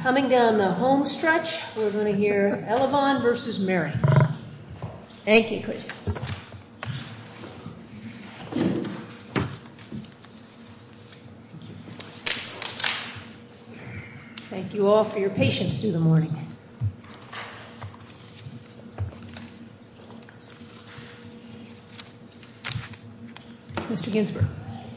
Coming down the home stretch, we're going to hear Elavon v. Merrick. Thank you all for your patience through the morning. Mr. Ginsberg.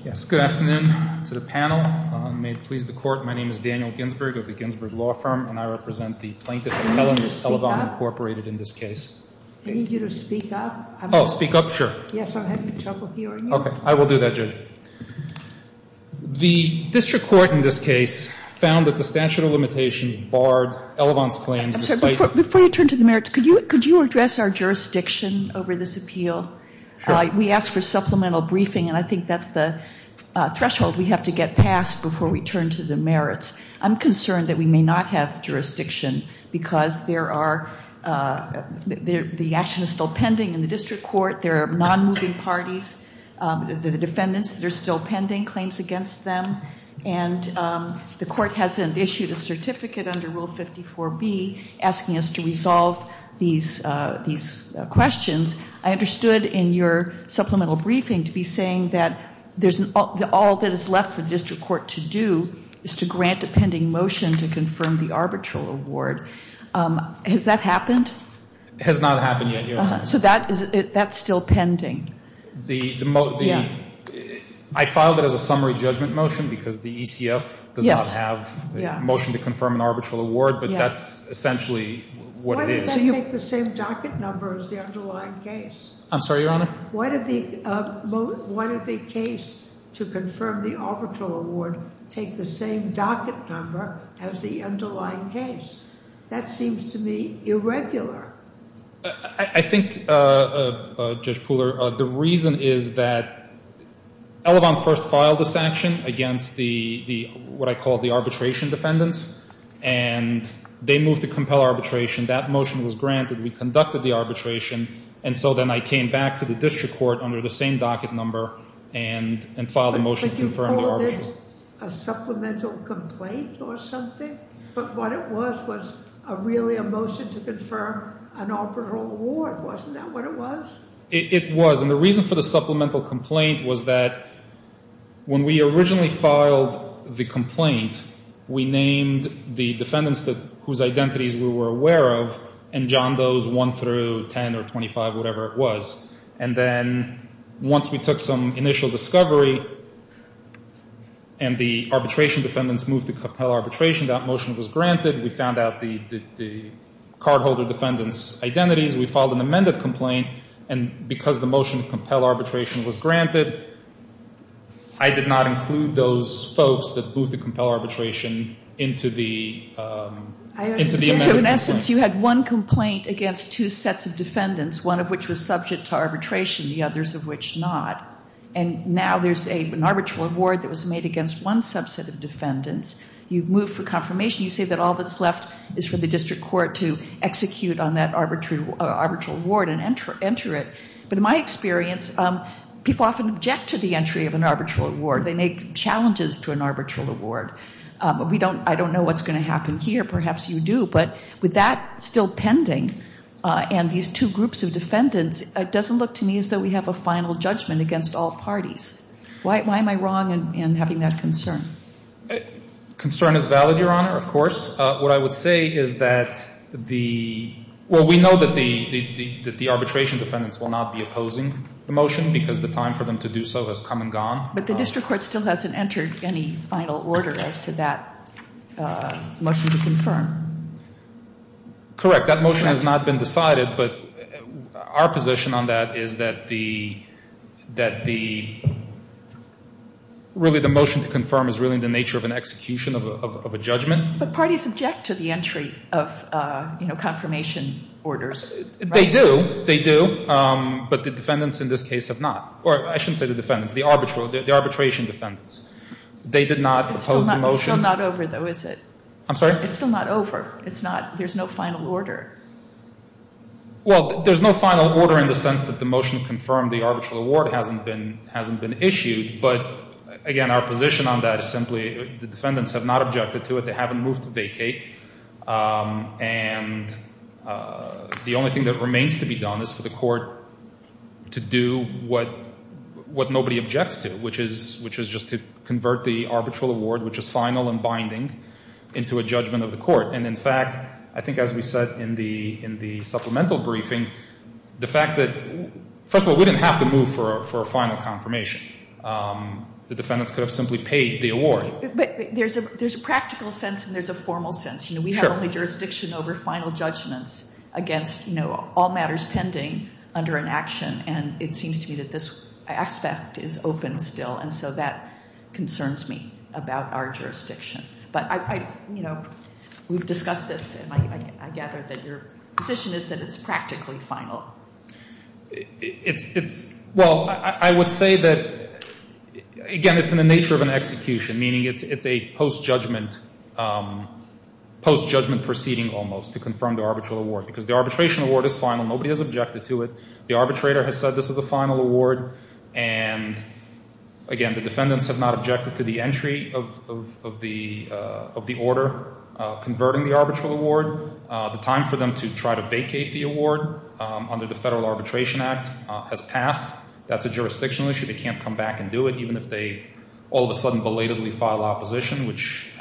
Yes, good afternoon to the panel. May it please the Court, my name is Daniel Ginsberg of the Ginsberg Law Firm, and I represent the plaintiff, Melanie Elavon, Incorporated, in this case. I need you to speak up. Oh, speak up? Sure. Yes, I'm having trouble hearing you. Okay, I will do that, Judge. The district court in this case found that the statute of limitations barred Elavon's claims despite... I'm sorry, before you turn to the merits, could you address our jurisdiction over this appeal? Sure. We asked for supplemental briefing, and I think that's the threshold we have to get past before we turn to the merits. I'm concerned that we may not have jurisdiction because there are, the action is still pending in the district court. There are non-moving parties. The defendants, they're still pending claims against them. And the court has issued a certificate under Rule 54B asking us to resolve these questions. I understood in your supplemental briefing to be saying that all that is left for the district court to do is to grant a pending motion to confirm the arbitral award. Has that happened? It has not happened yet, Your Honor. So that's still pending? I filed it as a summary judgment motion because the ECF does not have a motion to confirm an arbitral award, but that's essentially what it is. Why did that take the same docket number as the underlying case? I'm sorry, Your Honor? Why did the case to confirm the arbitral award take the same docket number as the underlying case? That seems to me irregular. I think, Judge Pooler, the reason is that Elevon first filed this action against the, what I call the arbitration defendants, and they moved to compel arbitration. That motion was granted. We conducted the arbitration. And so then I came back to the district court under the same docket number and filed a motion to confirm the arbitral. You called it a supplemental complaint or something? But what it was was really a motion to confirm an arbitral award. Wasn't that what it was? It was. And the reason for the supplemental complaint was that when we originally filed the complaint, we named the defendants whose identities we were aware of and John Doe's 1 through 10 or 25, whatever it was. And then once we took some initial discovery and the arbitration defendants moved to compel arbitration, that motion was granted. We found out the cardholder defendants' identities. We filed an amended complaint. And because the motion to compel arbitration was granted, I did not include those folks that moved to compel arbitration into the amended complaint. In essence, you had one complaint against two sets of defendants, one of which was subject to arbitration, the others of which not. And now there's an arbitral award that was made against one subset of defendants. You've moved for confirmation. You say that all that's left is for the district court to execute on that arbitral award and enter it. But in my experience, people often object to the entry of an arbitral award. They make challenges to an arbitral award. We don't, I don't know what's going to happen here. Perhaps you do. But with that still pending and these two groups of defendants, it doesn't look to me as though we have a final judgment against all parties. Why am I wrong in having that concern? Concern is valid, Your Honor, of course. What I would say is that the, well, we know that the arbitration defendants will not be opposing the motion because the time for them to do so has come and gone. But the district court still hasn't entered any final order as to that motion to confirm. Correct. That motion has not been decided. But our position on that is that the, really the motion to confirm is really the nature of an execution of a judgment. But parties object to the entry of, you know, confirmation orders. They do. They do. But the defendants in this case have not. Or I shouldn't say the defendants, the arbitration defendants. They did not oppose the motion. It's still not over, though, is it? I'm sorry? It's still not over. It's not, there's no final order. Well, there's no final order in the sense that the motion to confirm the arbitral award hasn't been issued. But, again, our position on that is simply the defendants have not objected to it. They haven't moved to vacate. And the only thing that remains to be done is for the court to do what nobody objects to, which is just to convert the arbitral award, which is final and binding, into a judgment of the court. And, in fact, I think, as we said in the supplemental briefing, the fact that, first of all, we didn't have to move for a final confirmation. The defendants could have simply paid the award. But there's a practical sense and there's a formal sense. You know, we have only jurisdiction over final judgments against, you know, all matters pending under an action. And it seems to me that this aspect is open still. And so that I gather that your position is that it's practically final. Well, I would say that, again, it's in the nature of an execution, meaning it's a post-judgment proceeding almost to confirm the arbitral award. Because the arbitration award is final. Nobody has objected to it. The arbitrator has said this is a final award. And, again, the defendants have not considered converting the arbitral award. The time for them to try to vacate the award under the Federal Arbitration Act has passed. That's a jurisdictional issue. They can't come back and do it, even if they all of a sudden belatedly file opposition, which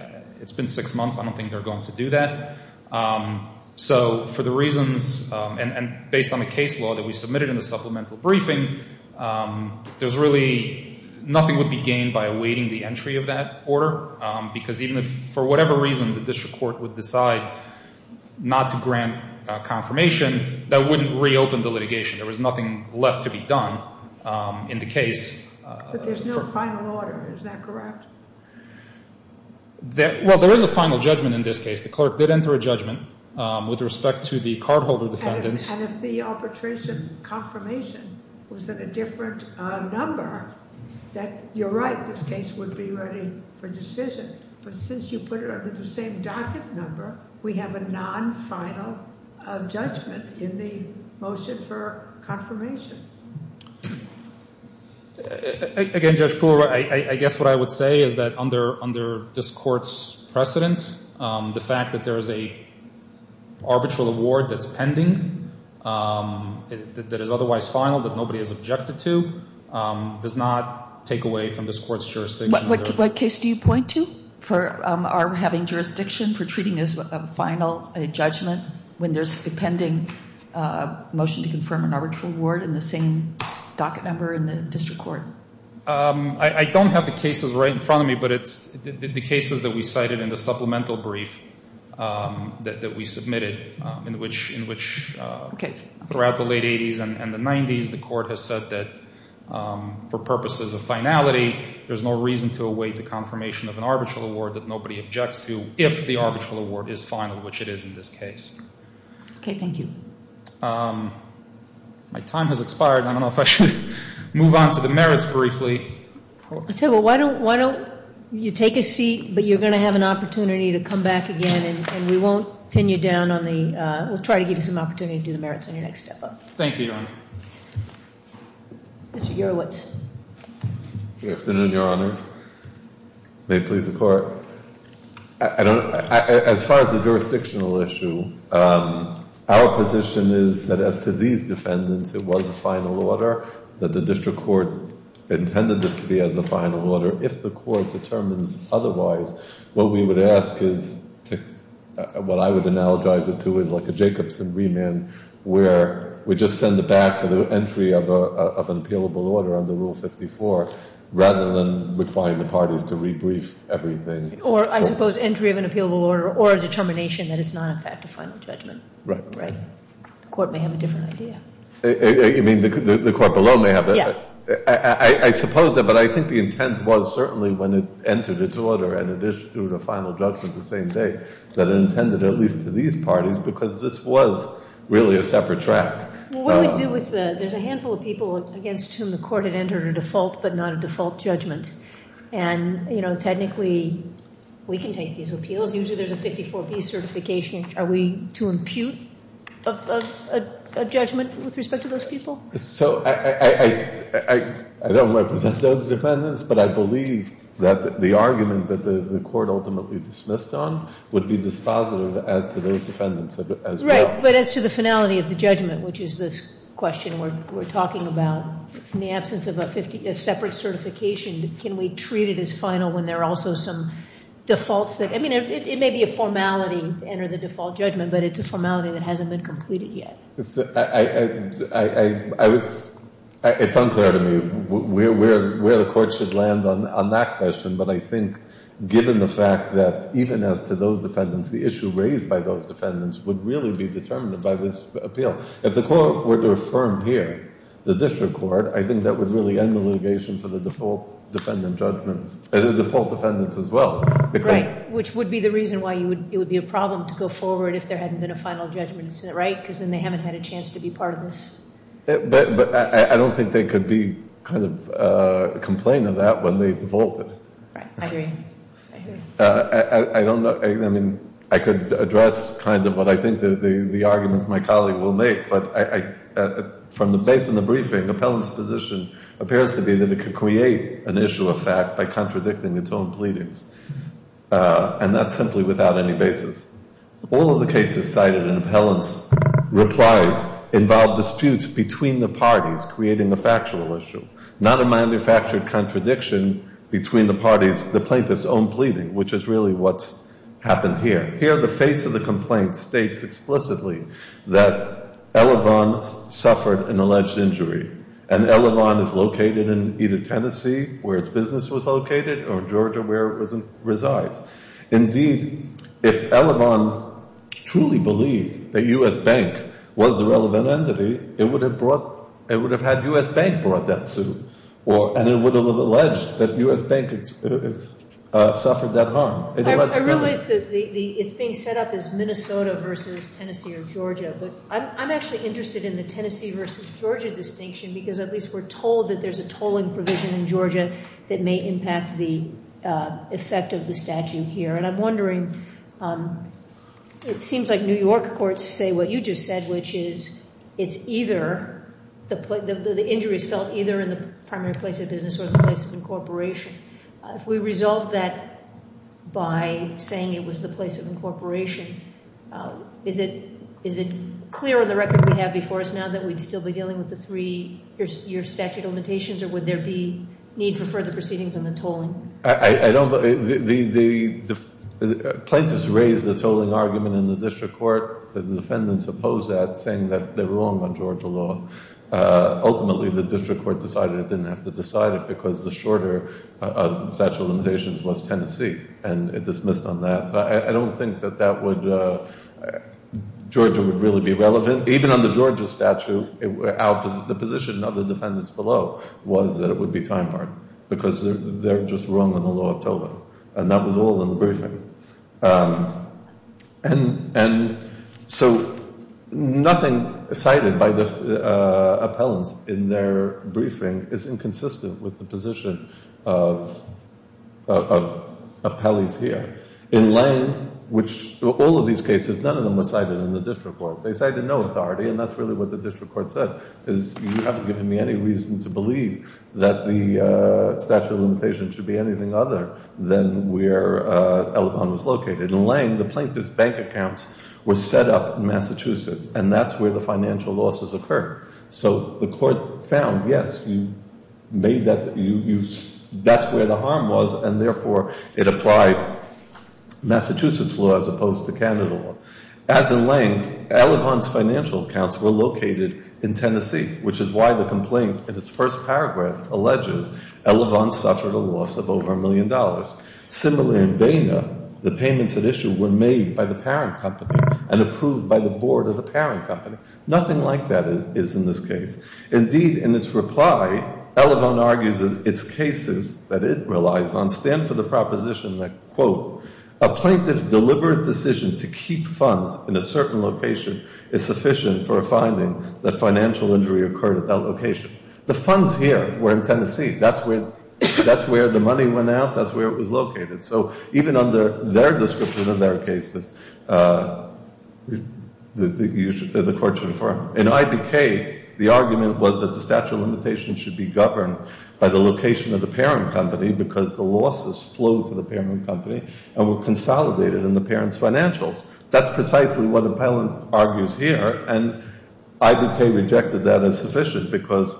it's been six months. I don't think they're going to do that. So for the reasons, and based on the case law that we submitted in the supplemental briefing, there's really nothing would be gained by awaiting the entry of that order. Because even if, for whatever reason, the district court would decide not to grant confirmation, that wouldn't reopen the litigation. There was nothing left to be done in the case. But there's no final order. Is that correct? Well, there is a final judgment in this case. The clerk did enter a judgment with respect to the cardholder defendants. And if the arbitration confirmation was at a different number, that you're right, this case would be ready for decision. But since you put it under the same docket number, we have a non-final judgment in the motion for confirmation. Again, Judge Poole, I guess what I would say is that under this court's precedence, the fact that there is a arbitral award that's pending, that is otherwise final, that nobody has objected to, does not take away from this court's jurisdiction. What case do you point to for having jurisdiction for treating as a final judgment when there's a pending motion to confirm an arbitral award in the same docket number in the district court? I don't have the cases right in front of me, but it's the cases that we cited in the supplemental brief that we submitted, in which throughout the late 80s and the 90s, the court has said that for purposes of finality, there's no reason to await the confirmation of an arbitral award that nobody objects to if the arbitral award is final, which it is in this case. My time has expired. I don't know if I should move on to the merits briefly. I tell you what, why don't you take a seat, but you're going to have an opportunity to come back again, and we won't pin you down on the, we'll try to give you some opportunity to do the merits on your next step up. Thank you, Your Honor. Mr. Gerowitz. Good afternoon, Your Honors. May it please the Court. As far as the jurisdictional issue, our position is that as to these defendants, it was a final order, that the district court intended this to be as a final order. If the court determines otherwise, what we would ask is, what I would analogize it to is like a Jacobson remand, where we just send it back for the entry of an appealable order under Rule 54, rather than requiring the parties to rebrief everything. Or, I suppose, entry of an appealable order, or a determination that it's not, in fact, a final judgment. Right. Right. The court may have a different idea. You mean the court below may have that? Yeah. I suppose that, but I think the intent was certainly when it entered its order and it issued a final judgment the same day, that it intended at least to these parties, because this was really a separate track. Well, what do we do with the, there's a handful of people against whom the court had entered a default, but not a default judgment. And, you know, technically, we can take these appeals. Usually there's a 54B certification. Are we to I don't represent those defendants, but I believe that the argument that the court ultimately dismissed on would be dispositive as to those defendants as well. Right. But as to the finality of the judgment, which is this question we're talking about, in the absence of a separate certification, can we treat it as final when there are also some defaults that, I mean, it may be a formality to enter the default judgment, but it's a It's unclear to me where the court should land on that question, but I think given the fact that even as to those defendants, the issue raised by those defendants would really be determined by this appeal. If the court were to affirm here, the district court, I think that would really end the litigation for the default defendant judgment, the default defendants as well. Right. Which would be the reason why it would be a problem to go forward if there hadn't been a final judgment, right? Because then they haven't had a chance to be part of this. But I don't think they could be kind of complaining of that when they defaulted. Right. I agree. I don't know. I mean, I could address kind of what I think the arguments my colleague will make, but from the base of the briefing, appellant's position appears to be that it could create an issue of fact by contradicting its own pleadings. And that's simply without any basis. All of the cases cited in appellant's reply involved disputes between the parties creating a factual issue, not a manufactured contradiction between the parties, the plaintiff's own pleading, which is really what's happened here. Here, the face of the complaint states explicitly that Elevon is located in either Tennessee, where its business was located, or Georgia, where it resides. Indeed, if Elevon truly believed that U.S. Bank was the relevant entity, it would have had U.S. Bank brought that suit. And it would have alleged that U.S. Bank suffered that harm. I realize that it's being set up as Minnesota versus Tennessee or Georgia, but I'm actually interested in the Tennessee versus Georgia distinction, because at least we're told that there's a tolling provision in Georgia that may impact the effect of the statute here. And I'm wondering, it seems like New York courts say what you just said, which is it's either, the injury is felt either in the primary place of business or the place of incorporation. If we resolve that by saying it was the place of incorporation, is it clear on the record we have before us now that we'd still be dealing with the three-year statute of limitations, or would there be need for further proceedings on the tolling? Plaintiffs raise the tolling argument in the district court. The defendants oppose that, saying that they're wrong on Georgia law. Ultimately, the district court decided it didn't have to decide it, because the shorter statute of limitations was Tennessee, and it dismissed on that. So I don't think that that would Georgia would really be relevant. Even on the Georgia statute, the position of the defendants below was that it would be time hard, because they're just wrong on the law of tolling. And that was all in the briefing. And so nothing cited by the appellants in their briefing is inconsistent with the position of appellees here. In Lane, which all of these cases, none of them were cited in the district court. They cited no authority, and that's really what the district court said, because you haven't given me any reason to believe that the In Lane, the plaintiff's bank accounts were set up in Massachusetts, and that's where the financial losses occurred. So the court found, yes, that's where the harm was, and therefore it applied Massachusetts law as opposed to Canada law. As in Lane, Elavon's financial accounts were located in Tennessee, which is why the complaint in its first the payments at issue were made by the parent company and approved by the board of the parent company. Nothing like that is in this case. Indeed, in its reply, Elavon argues that its cases that it relies on stand for the proposition that, quote, a plaintiff's deliberate decision to keep funds in a certain location is sufficient for a finding that financial injury occurred at that location. The funds here were in Tennessee. That's where the money went out. That's where it was located. So even under their description of their cases, the court should affirm. In IDK, the argument was that the statute of limitations should be governed by the location of the parent company because the losses flowed to the parent company and were consolidated in the parent's financials. That's precisely what Appellant argues here, and IDK rejected that as sufficient because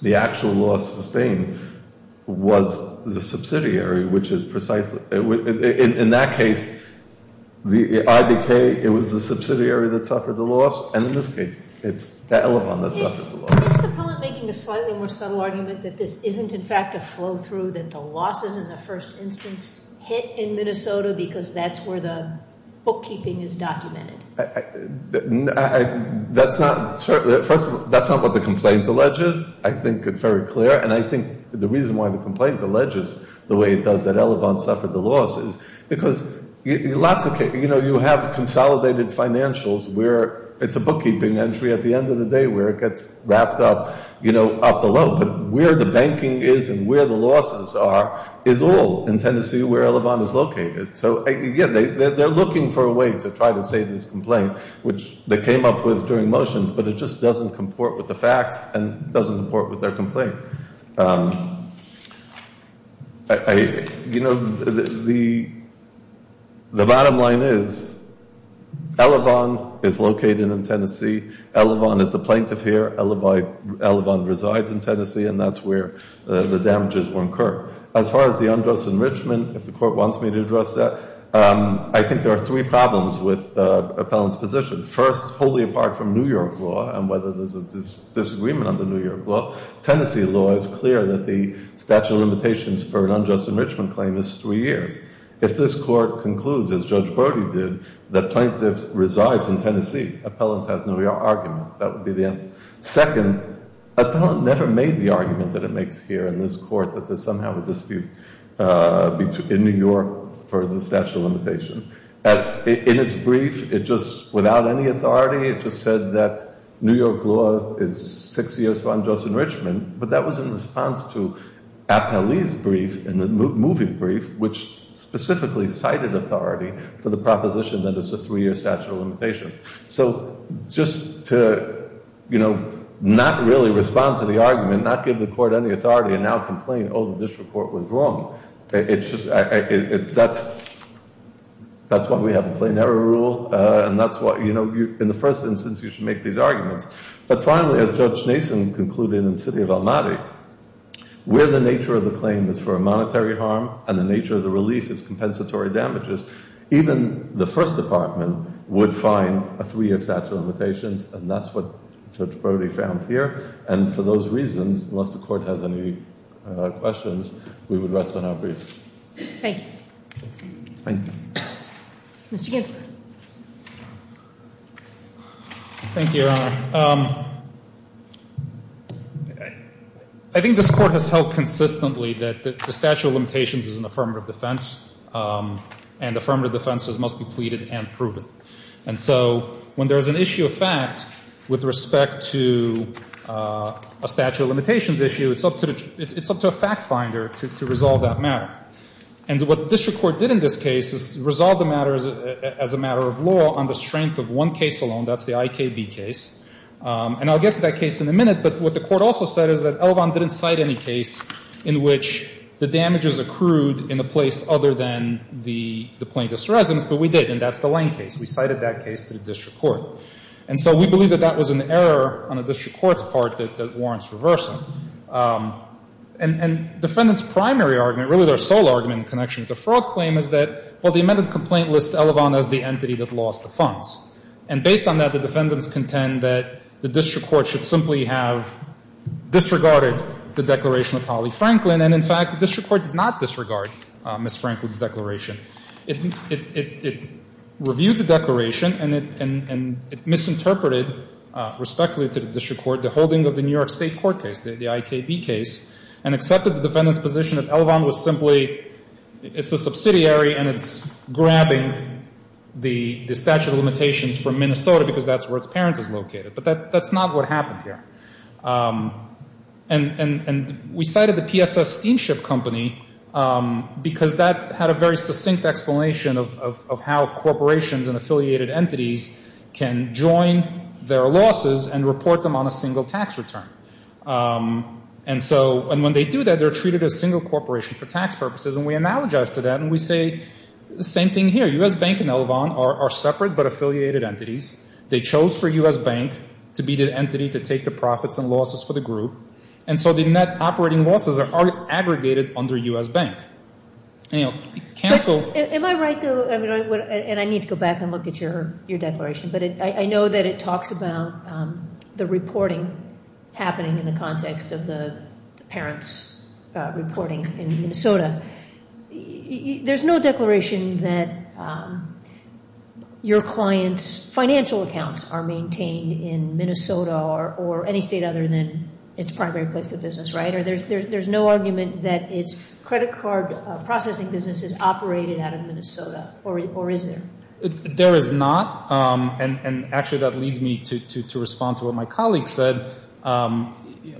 the actual loss sustained was the subsidiary, which is precisely in that case, the IDK, it was the subsidiary that suffered the loss, and in this case, it's Elavon that suffers the loss. Is Appellant making a slightly more subtle argument that this isn't in fact a first instance hit in Minnesota because that's where the bookkeeping is documented? That's not what the complaint alleges. I think it's very clear, and I think the reason why the complaint alleges the way it does that Elavon suffered the loss is because you have consolidated financials where it's a bookkeeping entry at the end of the day where it gets wrapped up below, but where the banking is and where the losses are is all in Tennessee where Elavon is located. They're looking for a way to try to save this complaint, which they came up with during motions, but it just doesn't comport with the facts and doesn't comport with their complaint. The bottom line is Elavon is located in Tennessee. Elavon is the plaintiff here. Elavon resides in Tennessee, and that's where the damages were incurred. As far as the unjust enrichment, if the court wants me to address that, I think there are three problems with Appellant's position. First, wholly apart from New York law and whether there's a disagreement under New York law, Tennessee law is clear that the statute of limitations for an unjust enrichment claim is three years. If this court concludes, as Judge Brody did, that the plaintiff resides in Tennessee, Appellant has no argument. That would be the end. Second, Appellant never made the argument that it makes here in this court that there's somehow a dispute in New York for the statute of limitation. In its brief, without any authority, it just said that New York law is six years for unjust enrichment, but that was in response to Appellee's brief in the moving brief, which specifically cited authority for the proposition that it's a three-year statute of limitations. So just to not really respond to the argument, not give the court any authority, and now complain, oh, the district court was wrong, that's why we have a plain error rule, and that's why in the first instance you should make these arguments. But finally, as Judge Nason concluded in the City of Almaty, where the nature of the claim is for a monetary harm and the nature of the relief is compensatory damages, even the first department would find a three-year statute of limitations, and that's what Judge Nason said. And so I think that's the case. Thank you. Mr. Ginsburg. Thank you, Your Honor. I think this Court has held consistently that the statute of limitations is an affirmative defense, and affirmative defenses must be pleaded and proven. And so when there's an issue of fact with respect to a statute of limitations issue, it's up to a fact-finder to resolve that matter. And what the district court did in this case is resolve the matter as a matter of law on the strength of one case alone, that's the IKB case. And I'll get to that case in a minute, but what the court also said is that Elvan didn't cite any case in which the damages accrued in a place other than the plaintiff's residence, but we did, and that's the Lane case. We cited that case to the district court. And so we believe that that was an error on the district court's part that warrants reversal. And defendant's primary argument, really their sole argument in connection with the fraud claim, is that, well, the amended complaint lists Elvan as the entity that lost the funds. And based on that, the defendants contend that the district court should simply have disregarded the declaration of Holly Franklin, and in fact, the district court did not disregard Ms. Franklin's declaration. It reviewed the declaration and it misinterpreted, respectfully to the district court, the holding of the New York State court case, the IKB case, and accepted the defendant's position that Elvan was simply, it's a subsidiary and it's grabbing the statute of limitations from Minnesota because that's where its parent is located. But that's not what happened here. And we cited the PSS Steamship Company because that had a very succinct explanation of how corporations and affiliated entities can join their losses and report them on a single tax return. And when they do that, they're treated as a single corporation for tax purposes. And we analogize to that and we say the same thing here. U.S. Bank and Elvan are separate but affiliated entities. They chose for U.S. Bank to be the entity to take the profits and losses for the group. And so the net operating losses are aggregated under U.S. Bank. Am I right, though, and I need to go back and look at your declaration, but I know that it talks about the reporting happening in the context of the parents reporting in Minnesota. There's no declaration that your client's financial accounts are maintained in Minnesota or any state other than its primary place of business, right? There's no argument that its credit card processing business is operated out of Minnesota or any state other than its primary place of business, right? And so that leads me to respond to what my colleague said.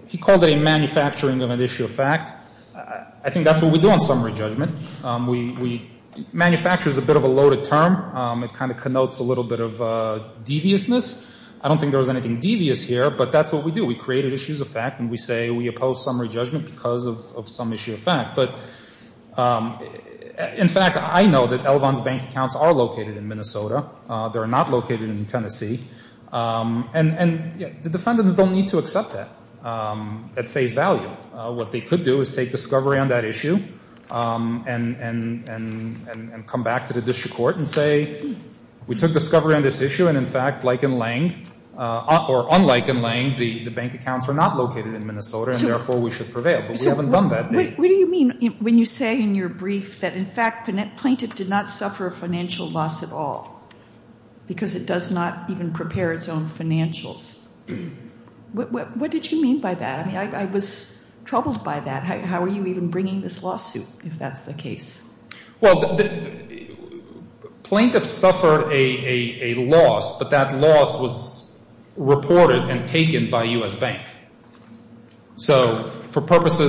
He called it a manufacturing of an issue of fact. I think that's what we do on summary judgment. Manufacture is a bit of a loaded term. It kind of connotes a little bit of deviousness. I don't think there was anything devious here, but that's what we do. We create issues of fact and we say we know that everyone's bank accounts are located in Minnesota. They're not located in Tennessee. And the defendants don't need to accept that at face value. What they could do is take discovery on that issue and come back to the district court and say we took discovery on this issue, and in fact, like in Lange, or unlike in Lange, the bank accounts are not located in Minnesota, and therefore we should prevail. What do you mean when you say in your brief that, in fact, plaintiff did not suffer a financial loss at all because it does not even prepare its own financials? What did you mean by that? I mean, I was troubled by that. How are you even bringing this lawsuit, if that's the case? Well, plaintiffs suffered a loss, but that loss was for purposes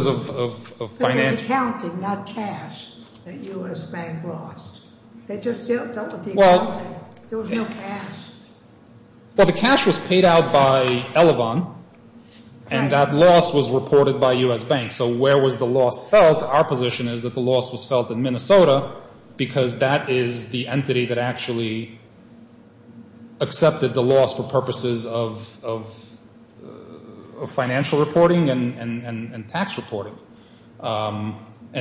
of finance. So it was accounting, not cash, that U.S. Bank lost. They just dealt with the accounting. There was no cash. Well, the cash was paid out by Elevon, and that loss was reported by U.S. Bank. So where was the loss felt? Our position is that the loss was felt in Minnesota because that is the entity that actually accepted the loss for purposes of financial reporting and tax reporting.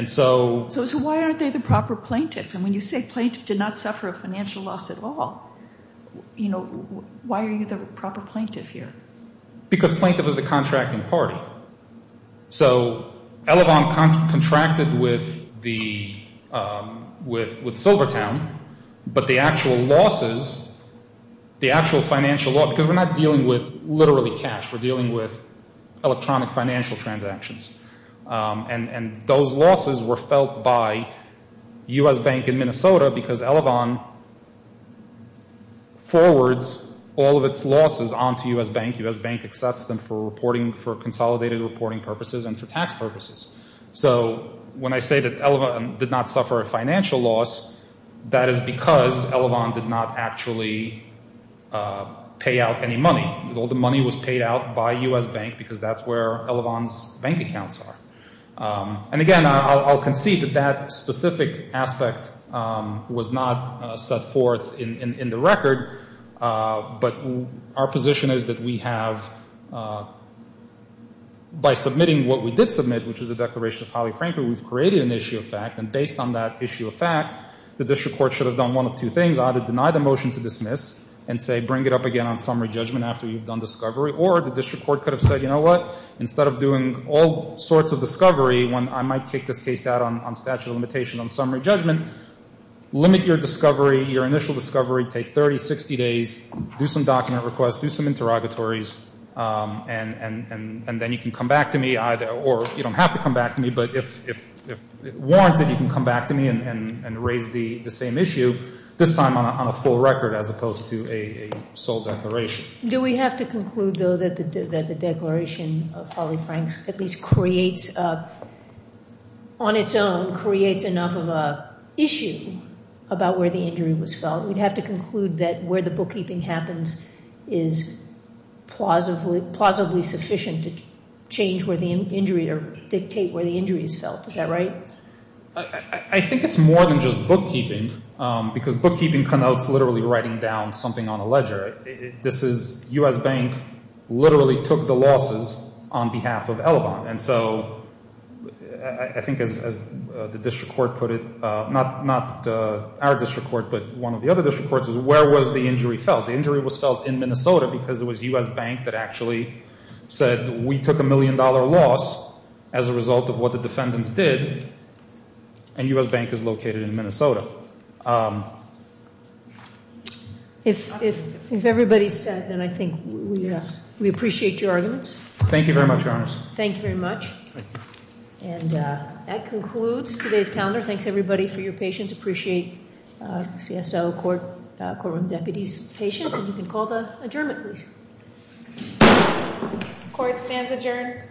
So why aren't they the proper plaintiff? And when you say plaintiff did not suffer a financial loss at all, why are you the proper plaintiff here? Because plaintiff is the contracting party. So Elevon contracted with Silvertown, but the actual losses, the actual financial loss, because we're not dealing with literally cash. We're dealing with electronic financial transactions. And those losses were felt by U.S. Bank in Minnesota because Elevon forwards all of its losses onto U.S. Bank. U.S. Bank accepts them for consolidated reporting purposes and for tax purposes. So when I say that Elevon did not suffer a financial loss, that is because Elevon did not actually pay out any money. All the money was paid out by U.S. Bank because that's where Elevon's bank accounts are. And again, I'll concede that that specific aspect was not set forth in the record, but our position is that we have, by submitting what we did submit, which is a Declaration of Highly Frankly, we've created an issue of fact. And based on that issue of fact, the district court should have done one of two things. Either deny the motion to dismiss and say bring it up again on summary judgment after you've done discovery. Or the district court could have said, you know what, instead of doing all sorts of discovery, I might kick this case out on statute of limitation on summary judgment, limit your discovery, your initial discovery, take 30, 60 days, do some document requests, do some interrogatories, and then you can come back to me either, or you don't have to come back to me, but if warranted, you can come back to me and raise the same issue, this time on a full record as opposed to a sole declaration. Do we have to conclude, though, that the Declaration of Highly Franks at least creates on its own, creates enough of an issue about where the injury was felt? We'd have to conclude that where the bookkeeping happens is plausibly sufficient to change where the injury or dictate where the injury is felt. Is that right? I think it's more than just bookkeeping, because bookkeeping connotes literally writing down something on a ledger. This is, U.S. Bank literally took the losses on behalf of Ellabont, and so I think as the district court put it, not our district court, but one of the other district courts, is where was the injury felt? The injury was felt in Minnesota because it was U.S. Bank that actually said we took a million dollar loss as a result of what the defendants did, and U.S. Bank is located in Minnesota. If everybody's set, then I think we appreciate your arguments. Thank you very much, Your Honors. And that concludes today's calendar. Thanks, everybody, for your patience. Appreciate CSO, courtroom deputies' patience, and you can call the adjournment, please. Court stands adjourned.